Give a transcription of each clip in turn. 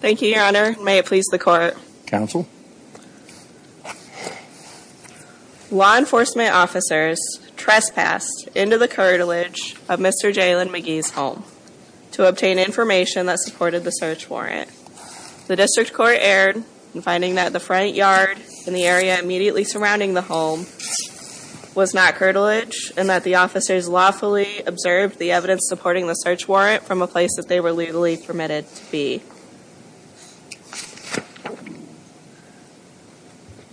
Thank you, your honor. May it please the court. Law enforcement officers trespassed into the cartilage of Mr. Jaylyn McGhee's home to obtain information that supported the search warrant. The district court erred in finding that the front yard in the area immediately surrounding the home was not cartilage and that the officers lawfully observed the evidence supporting the search warrant from a place that they were legally permitted to be.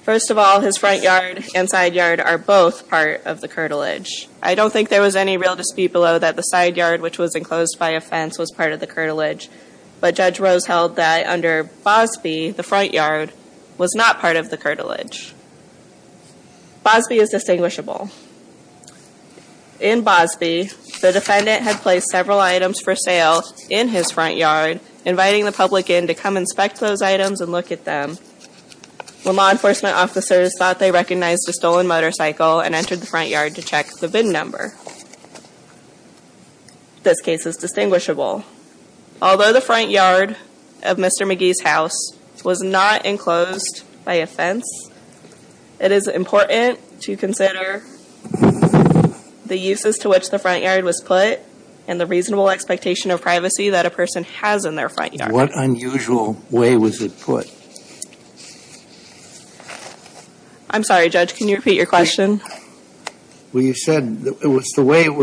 First of all, his front yard and side yard are both part of the cartilage. I don't think there was any real dispute below that the side yard, which was enclosed by a fence, was part of the cartilage. But Judge Rose held that under Bosby, the front yard was not part of the cartilage. Bosby is distinguishable. In Bosby, the defendant had placed several items for sale in his front yard, inviting the public in to come inspect those items and look at them. When law enforcement officers thought they recognized a stolen motorcycle and entered the front yard to check the bin number. This case is distinguishable. Although the front yard of Mr. McGhee's house was not enclosed by a fence, it is important to consider the uses to which the front yard was put and the reasonable expectation of privacy that a person has in their front yard. What unusual way was it put? I'm sorry, Judge. Can you repeat your question? Well, you said it was the way it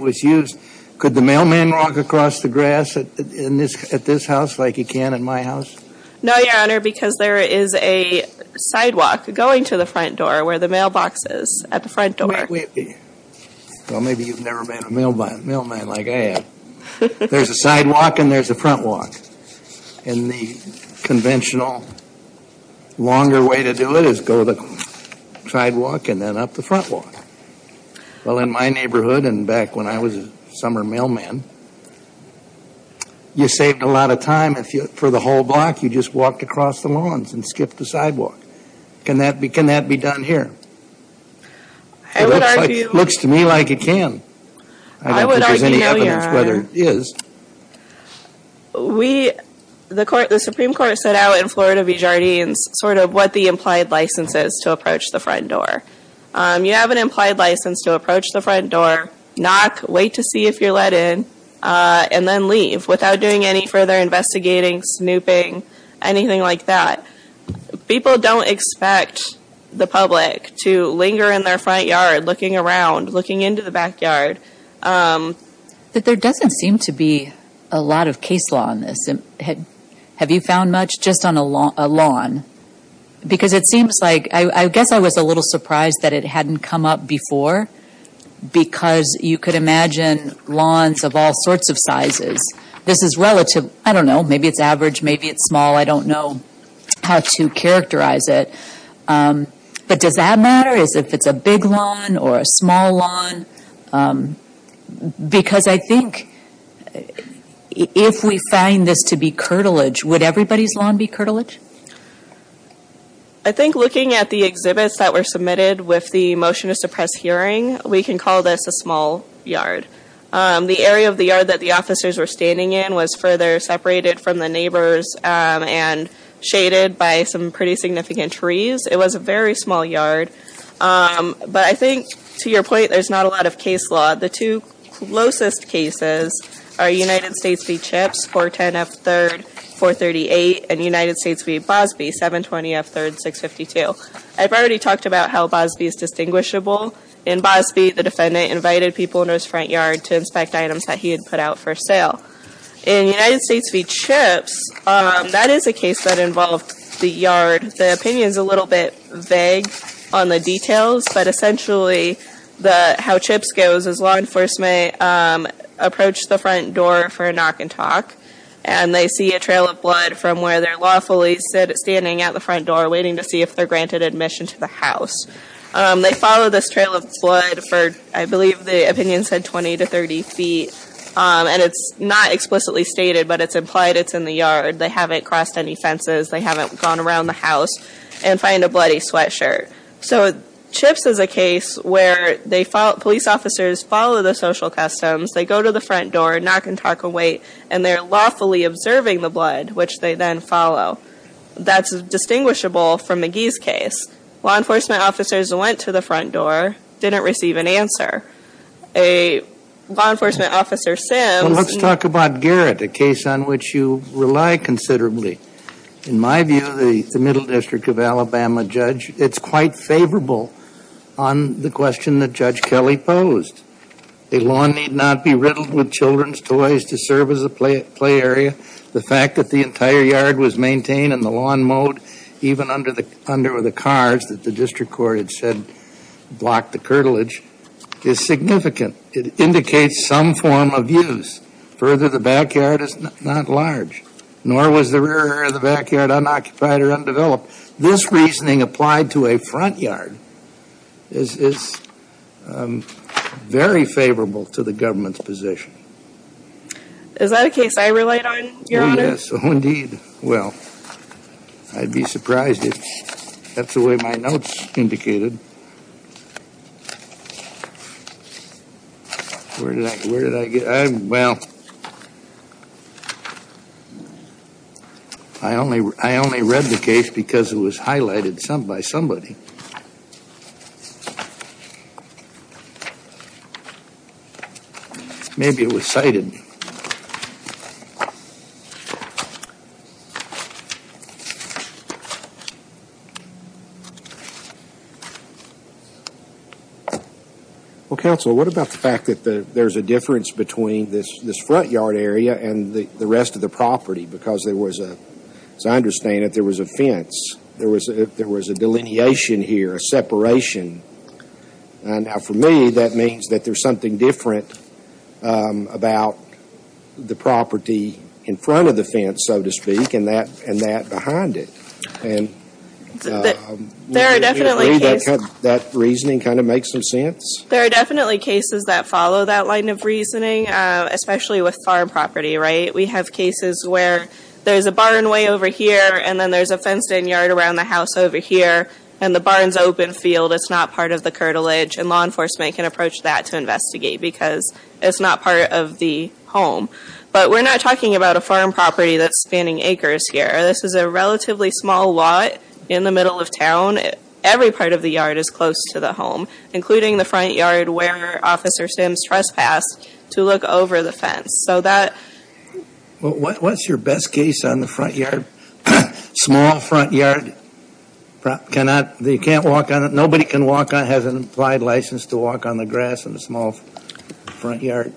was used. Could the mailman walk across the grass at this house like he can in my house? No, Your Honor, because there is a sidewalk going to the front door where the mailbox is at the front door. Well, maybe you've never met a mailman like I have. There's a sidewalk and there's a front walk. And the conventional longer way to do it is go the sidewalk and then up the front walk. Well, in my neighborhood and back when I was a summer mailman, you saved a lot of time for the whole block. You just walked across the lawns and skipped the sidewalk. Can that be done here? It looks to me like it can. I don't think there's any evidence whether it is. The Supreme Court set out in Florida v. Jardines sort of what the implied license is to approach the front door. You have an implied license to approach the front door, knock, wait to see if you're let in, and then leave without doing any further investigating, snooping, anything like that. People don't expect the public to linger in their front yard. There doesn't seem to be a lot of case law on this. Have you found much just on a lawn? Because it seems like, I guess I was a little surprised that it hadn't come up before, because you could imagine lawns of all sorts of sizes. This is relative, I don't know, maybe it's average, maybe it's small. I don't know how to characterize it. But does that matter, if it's a big lawn or a small lawn? Because I think if we find this to be curtilage, would everybody's lawn be curtilage? I think looking at the exhibits that were submitted with the motion to suppress hearing, we can call this a small yard. The area of the yard that the officers were standing in was further separated from the neighbors and shaded by some pretty significant trees. It was a very small yard. But I think, to your point, there's not a lot of case law. The two closest cases are United States v. Chips, 410F3, 438, and United States v. Bosby, 720F3, 652. I've already talked about how Bosby is distinguishable. In Bosby, the defendant invited people into his front yard to inspect items that he had put out for sale. In United States v. Chips, that is a case that involved the yard. The opinion is a little bit vague on the details, but essentially how Chips goes is law enforcement approach the front door for a knock and talk, and they see a trail of blood from where they're lawfully standing at the front door waiting to see if they're granted admission to the house. They follow this trail of blood for, I believe the opinion said 20 to 30 feet, and it's not explicitly stated, but it's implied it's in the yard. They haven't crossed any fences. They haven't gone around the house and find a bloody sweatshirt. So Chips is a case where police officers follow the social customs. They go to the front door, knock and talk and wait, and they're lawfully observing the blood, which they then follow. That's distinguishable from McGee's case. Law enforcement officers went to the front door, didn't receive an answer. A law enforcement officer, Sims... Well, let's talk about Garrett, a case on which you rely considerably. In my view, the Middle District of Alabama judge, it's quite favorable on the question that Judge Kelly posed. A lawn need not be riddled with children's toys to serve as a play area. The fact that the entire yard was maintained in the lawn mode, even under the cars that the district court had said blocked the curtilage, is significant. It indicates some form of use. Further, the backyard is not large, nor was the rear area of the backyard unoccupied or undeveloped. This reasoning applied to a front yard is very favorable to the government's position. Is that a case I relied on, Your Honor? Oh, yes. Oh, indeed. Well, I'd be surprised if... That's the way my notes indicated. Where did I... Where did I get... Well, I only... I only read the case because it was highlighted by somebody. Maybe it was cited. Well, Counsel, what about the fact that there's a difference between this front yard area and the rest of the property because there was a... As I understand it, there was a fence. There was a delineation here, a separation. Now, for me, that means that there's something different about the property in front of the fence, so to speak, and that behind it. There are definitely cases... Do you agree that that reasoning kind of makes some sense? There are definitely cases that follow that line of reasoning, especially with farm property, right? We have cases where there's a barn way over here, and then there's a fenced-in yard around the house over here, and the barn's open field. It's not part of the curtilage, and law enforcement can approach that to investigate because it's not part of the home. But we're not talking about a farm property that's spanning acres here. This is a relatively small lot in the middle of town. Every part of the yard is close to the home, including the front yard where Officer Sims trespassed to look over the fence. So that... What's your best case on the front yard? Small front yard? You can't walk on it? Nobody can walk on it, has an implied license to walk on the grass in a small front yard?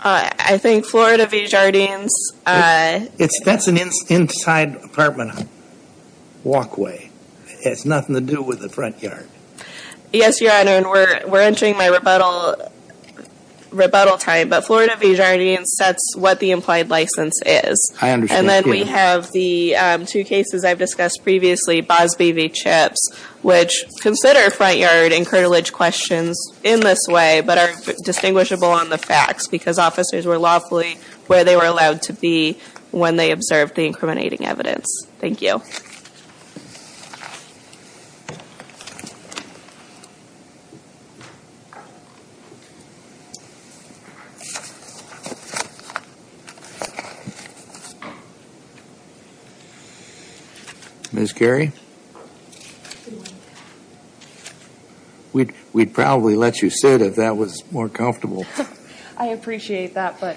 I think Florida V. Jardines... That's an inside apartment walkway. It has nothing to do with the front yard. Yes, Your Honor, and we're entering my rebuttal time, but Florida V. Jardines sets what the implied license is. I understand. And then we have the two cases I've discussed previously, Bosby v. Chips, which consider front yard and curtilage questions in this way, but are distinguishable on the facts because officers were lawfully where they were allowed to be when they observed the incriminating evidence. Thank you. Ms. Carey? We'd probably let you sit if that was more comfortable. I appreciate that, but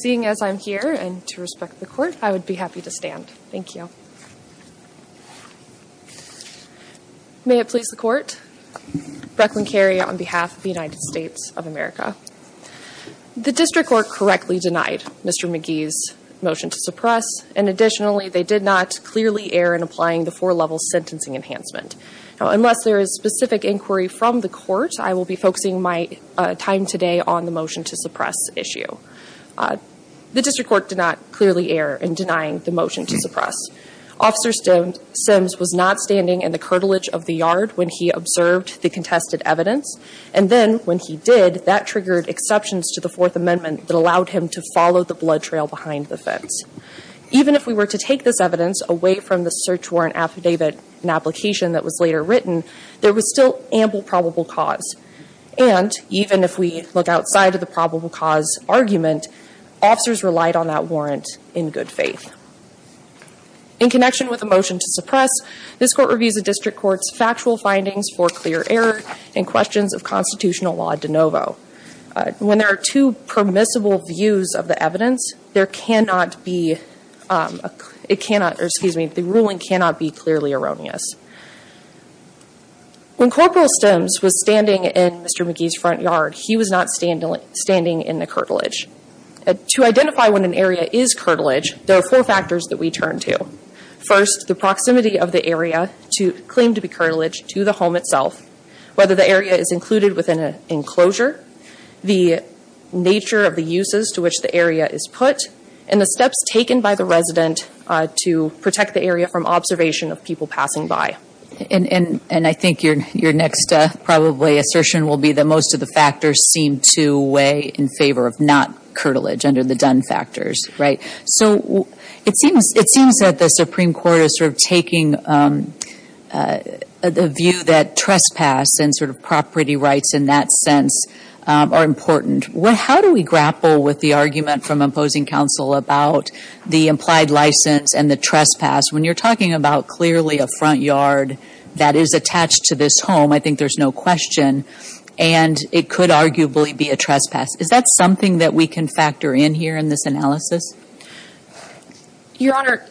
seeing as I'm here and to respect the court, I would be happy to stand. Thank you. May it please the court, Brecklin Carey on behalf of the United States of America. The district court correctly denied Mr. McGee's motion to suppress, and additionally, they did not clearly err in applying the four-level sentencing enhancement. Unless there is specific inquiry from the court, I will be focusing my time today on the motion to suppress issue. The district court did not clearly err in denying the motion to suppress. Officer Sims was not standing in the curtilage of the yard when he observed the contested evidence, and then when he did, that triggered exceptions to the Fourth Amendment that allowed him to follow the blood trail behind the fence. Even if we were to take this evidence away from the search warrant affidavit and application that was later written, there was still ample probable cause. And even if we look outside of the probable cause argument, officers relied on that warrant in good faith. In connection with the motion to suppress, this court reviews the district court's factual findings for clear error and questions of constitutional law de novo. When there are two permissible views of the evidence, there cannot be, it cannot, or excuse me, the ruling cannot be clearly erroneous. When Corporal Sims was standing in Mr. McGee's front yard, he was not standing in the curtilage. To identify when an area is curtilage, there are four factors that we turn to. First, the proximity of the area to claim to be curtilage to the home itself, whether the area is included within an enclosure, the nature of the uses to which the area is put, and the steps taken by the resident to protect the area from observation of people passing by. And I think your next probably assertion will be that most of the factors seem to weigh in favor of not curtilage under the done factors, right? So it seems that the Supreme Court is sort of taking the view that trespass and sort of property rights in that sense are important. How do we grapple with the argument from opposing counsel about the implied license and the trespass when you're talking about clearly a front yard that is attached to this home? I think there's no question. And it could arguably be a trespass. Is that something that we can factor in here in this analysis? Your Honor,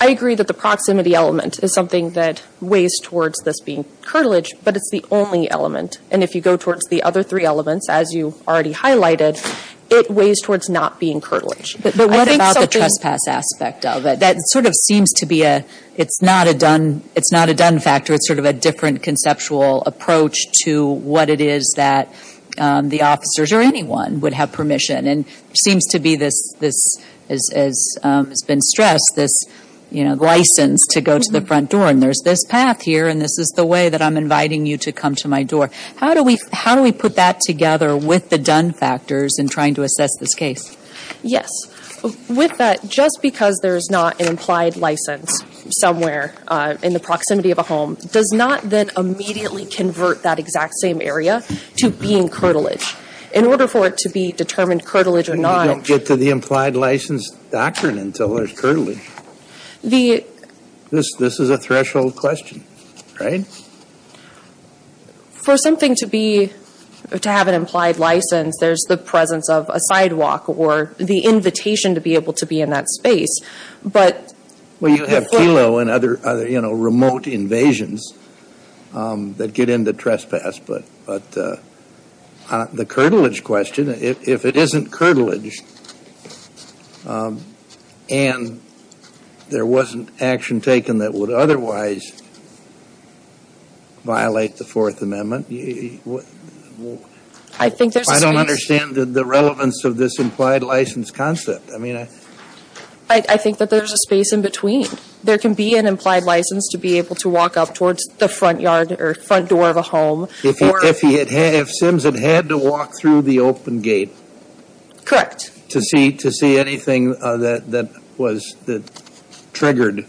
I agree that the proximity element is something that weighs towards this being curtilage, but it's the only element. And if you go towards the other three elements, as you already highlighted, it weighs towards not being curtilage. But what about the trespass aspect of it? That sort of seems to be a, it's not a done factor. It's sort of a different conceptual approach to what it is that the officers or anyone would have permission. And it seems to be this, as has been stressed, this license to go to the front door. And there's this path here, and this is the way that I'm inviting you to come to my door. How do we put that together with the done factors in trying to assess this case? Yes. With that, just because there's not an implied license somewhere in the proximity of a home does not then immediately convert that exact same area to being curtilage. In order for it to be determined curtilage or not… And you don't get to the implied license doctrine until there's curtilage. The… This is a threshold question, right? For something to be, to have an implied license, there's the presence of a sidewalk or the invitation to be able to be in that space. But… Well, you have Kelo and other, you know, remote invasions that get into trespass. But the curtilage question, if it isn't curtilage and there wasn't action taken that would otherwise violate the Fourth Amendment… I think there's a space… I don't understand the relevance of this implied license concept. I mean, I… I think that there's a space in between. There can be an implied license to be able to walk up towards the front yard or front door of a home… If he had, if Sims had had to walk through the open gate…… to see, to see anything that, that was, that triggered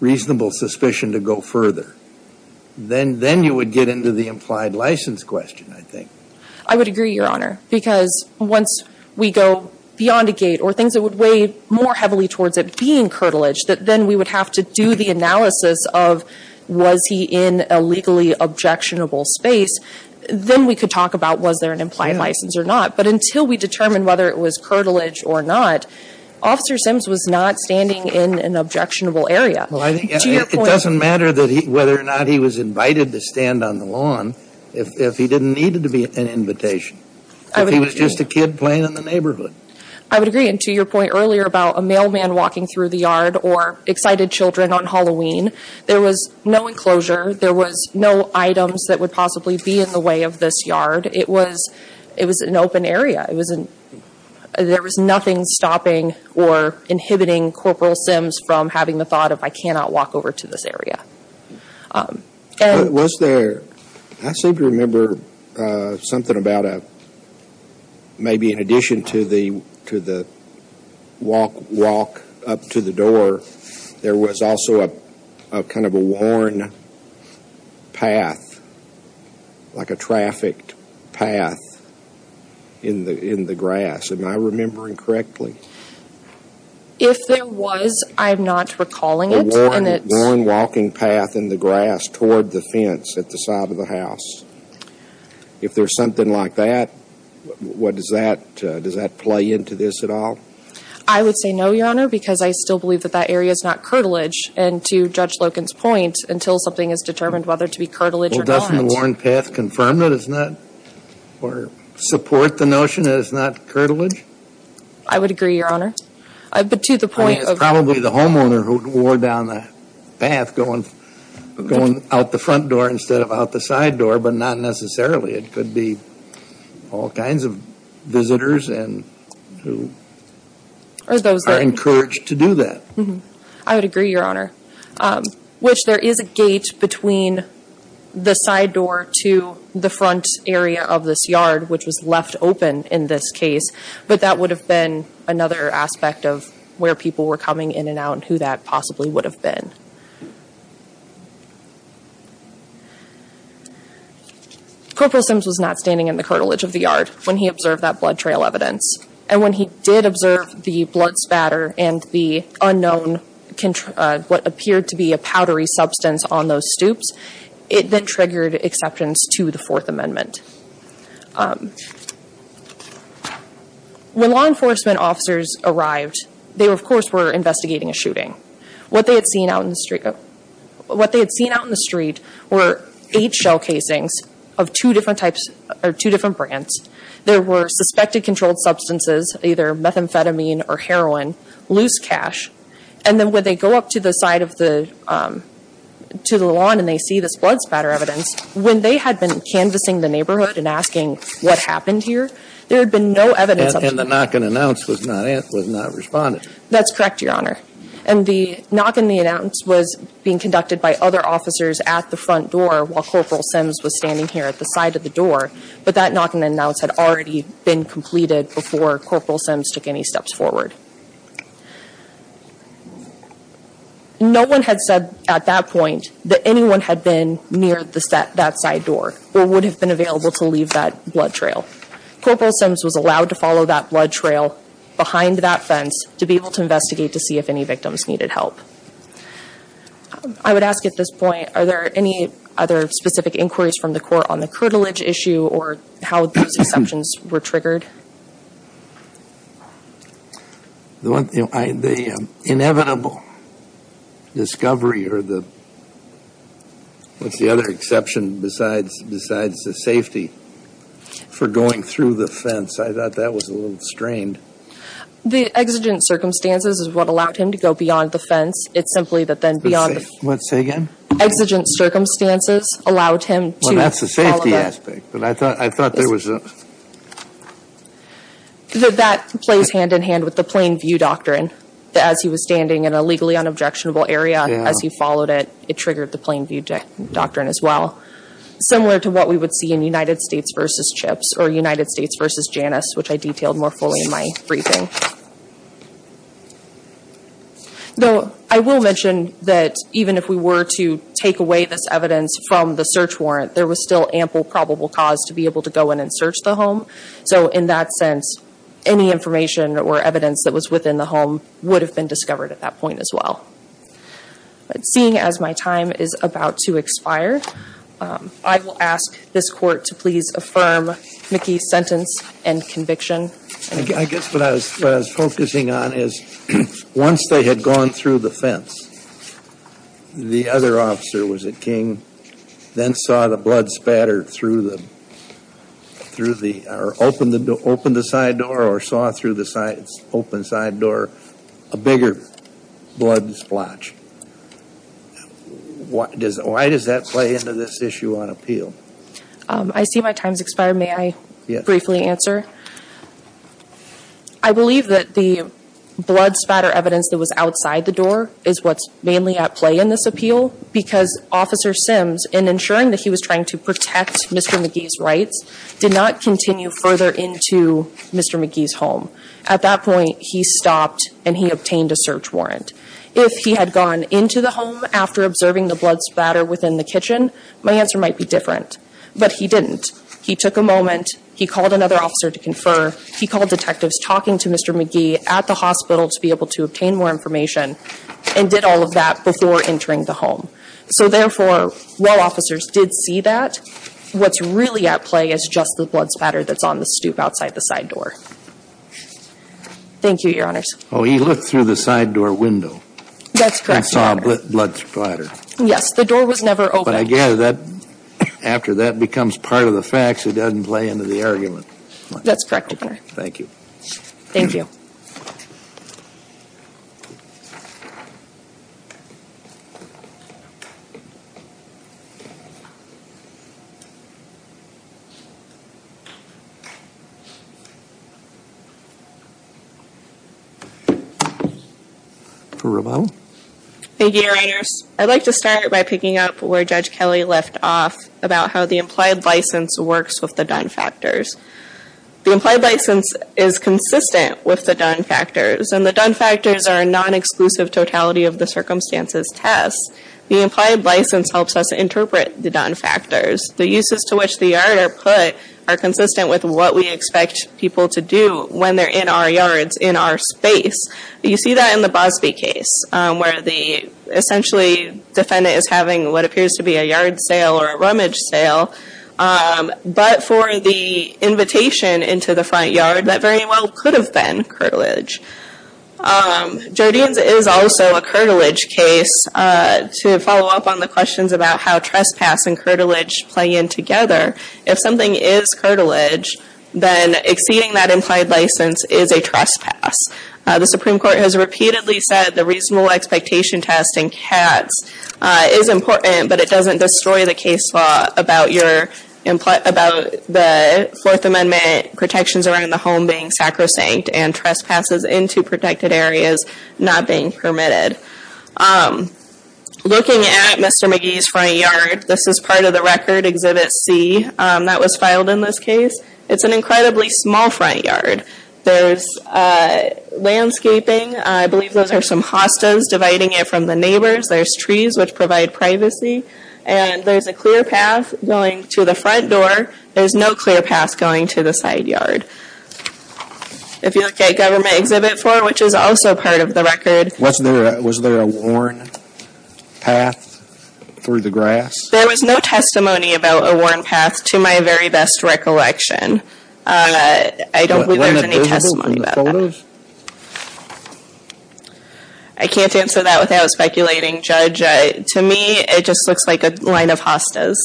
reasonable suspicion to go further, then, then you would get into the implied license question, I think. I would agree, Your Honor, because once we go beyond a gate or things that would weigh more heavily towards it being curtilage, that then we would have to do the analysis of was he in a legally objectionable space, then we could talk about was there an implied license or not. But until we determined whether it was curtilage or not, Officer Sims was not standing in an objectionable area. Well, I think… To your point… It doesn't matter that he, whether or not he was invited to stand on the lawn if, if he didn't need to be an invitation. If he was just a kid playing in the neighborhood. I would agree, and to your point earlier about a mailman walking through the yard or excited children on Halloween, there was no enclosure, there was no items that would possibly be in the way of this yard. It was, it was an open area. It was an… There was nothing stopping or inhibiting Corporal Sims from having the thought of, I cannot walk over to this area. Was there, I seem to remember something about a, maybe in addition to the, to the walk, walk up to the door, there was also a, a kind of a worn path, like a trafficked path in the, in the grass. Am I remembering correctly? If there was, I'm not recalling it. A worn, worn walking path in the grass toward the fence at the side of the house. If there's something like that, what does that, does that play into this at all? I would say no, Your Honor, because I still believe that that area is not curtilage, and to Judge Loken's point, until something is determined whether to be curtilage or not. Well, doesn't the worn path confirm that it's not, or support the notion that it's not curtilage? I would agree, Your Honor. But to the point of… I mean, it's probably the homeowner who wore down the path going, going out the front door instead of out the side door, but not necessarily. It could be all kinds of visitors and who are encouraged to do that. I would agree, Your Honor. Which there is a gate between the side door to the front area of this yard, which was left open in this case. But that would have been another aspect of where people were coming in and out and who that possibly would have been. Corporal Sims was not standing in the curtilage of the yard when he observed that blood trail evidence. And when he did observe the blood spatter and the unknown, what appeared to be a powdery substance on those stoops, it then triggered exceptions to the Fourth Amendment. When law enforcement officers arrived, they, of course, were investigating a shooting. What they had seen out in the street were eight shell casings of two different brands. There were suspected controlled substances, either methamphetamine or heroin, loose cash. And then when they go up to the side of the… to the lawn and they see this blood spatter evidence, when they had been canvassing the neighborhood and asking, what happened here? There had been no evidence of… And the knock and announce was not… was not responded. That's correct, Your Honor. And the knock and the announce was being conducted by other officers at the front door while Corporal Sims was standing here at the side of the door. But that knock and announce had already been completed before Corporal Sims took any steps forward. No one had said at that point that anyone had been near the… that side door or would have been available to leave that blood trail. Corporal Sims was allowed to follow that blood trail behind that fence to be able to investigate to see if any victims needed help. I would ask at this point, are there any other specific inquiries from the court on the curtilage issue or how those exceptions were triggered? The one… the inevitable discovery or the… what's the other exception besides… besides the safety for going through the fence? I thought that was a little strained. The exigent circumstances is what allowed him to go beyond the fence. It's simply that then beyond the… Say… what? Say again? Exigent circumstances allowed him to follow that… I thought… I thought there was a… That plays hand in hand with the plain view doctrine. As he was standing in a legally unobjectionable area, as he followed it, it triggered the plain view doctrine as well. Similar to what we would see in United States v. Chips or United States v. Janus, which I detailed more fully in my briefing. Though, I will mention that even if we were to take away this evidence from the search warrant, there was still ample probable cause to be able to go in and search the home. So in that sense, any information or evidence that was within the home would have been discovered at that point as well. Seeing as my time is about to expire, I will ask this court to please affirm Mickey's sentence and conviction. I guess what I was… what I was focusing on is once they had gone through the fence, the other officer, was it King, then saw the blood spatter through the… through the… or opened the side door or saw through the side… open side door a bigger blood splotch. What does… why does that play into this issue on appeal? I see my time has expired. May I briefly answer? I believe that the blood spatter evidence that was outside the door is what's mainly at play in this appeal because Officer Sims, in ensuring that he was trying to protect Mr. McGee's rights, did not continue further into Mr. McGee's home. At that point, he stopped and he obtained a search warrant. If he had gone into the home after observing the blood spatter within the kitchen, my answer might be different. But he didn't. He took a moment, he called another officer to confer, he called detectives talking to Mr. McGee at the hospital to be able to obtain more information, and did all of that before entering the home. So therefore, while officers did see that, what's really at play is just the blood spatter that's on the stoop outside the side door. Thank you, Your Honors. Oh, he looked through the side door window… That's correct, Your Honor.… and saw a blood splatter. Yes. The door was never opened. But I gather that after that becomes part of the facts, it doesn't play into the argument. That's correct, Your Honor. Thank you. Thank you. Ms. Rubau? Thank you, Your Honors. I'd like to start by picking up where Judge Kelly left off about how the implied license works with the done factors. The implied license is consistent with the done factors, and the done factors are a non-exclusive totality of the circumstances test. The implied license helps us interpret the done factors. The uses to which the yard are put are consistent with what we expect people to do when they're in our yards, in our space. You see that in the Bosby case, where the essentially defendant is having what appears to be a yard sale or a rummage sale, but for the invitation into the front yard, that very well could have been curtilage. Jardine's is also a curtilage case. To follow up on the questions about how trespass and curtilage play in together, if something is curtilage, then exceeding that implied license is a trespass. The Supreme Court has repeatedly said the reasonable expectation test in Katz is important, but it doesn't destroy the case law about the Fourth Amendment protections around the home being sacrosanct and trespasses into protected areas not being permitted. Looking at Mr. McGee's front yard, this is part of the record, Exhibit C, that was filed in this case. It's an incredibly small front yard. There's landscaping, I believe those are some hostas, dividing it from the neighbors, there's trees which provide privacy, and there's a clear path going to the front door, there's no clear path going to the side yard. If you look at Government Exhibit 4, which is also part of the record. Was there a worn path through the grass? There was no testimony about a worn path to my very best recollection. I don't believe there's any testimony about that. I can't answer that without speculating, Judge. To me, it just looks like a line of hostas.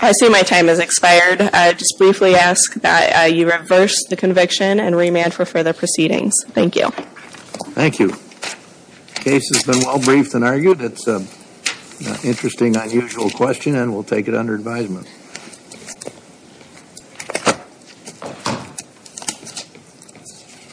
I see my time has expired. I just briefly ask that you reverse the conviction and remand for further proceedings. Thank you. Thank you. The case has been well briefed and argued. It's an interesting, unusual question and we'll take it under advisement.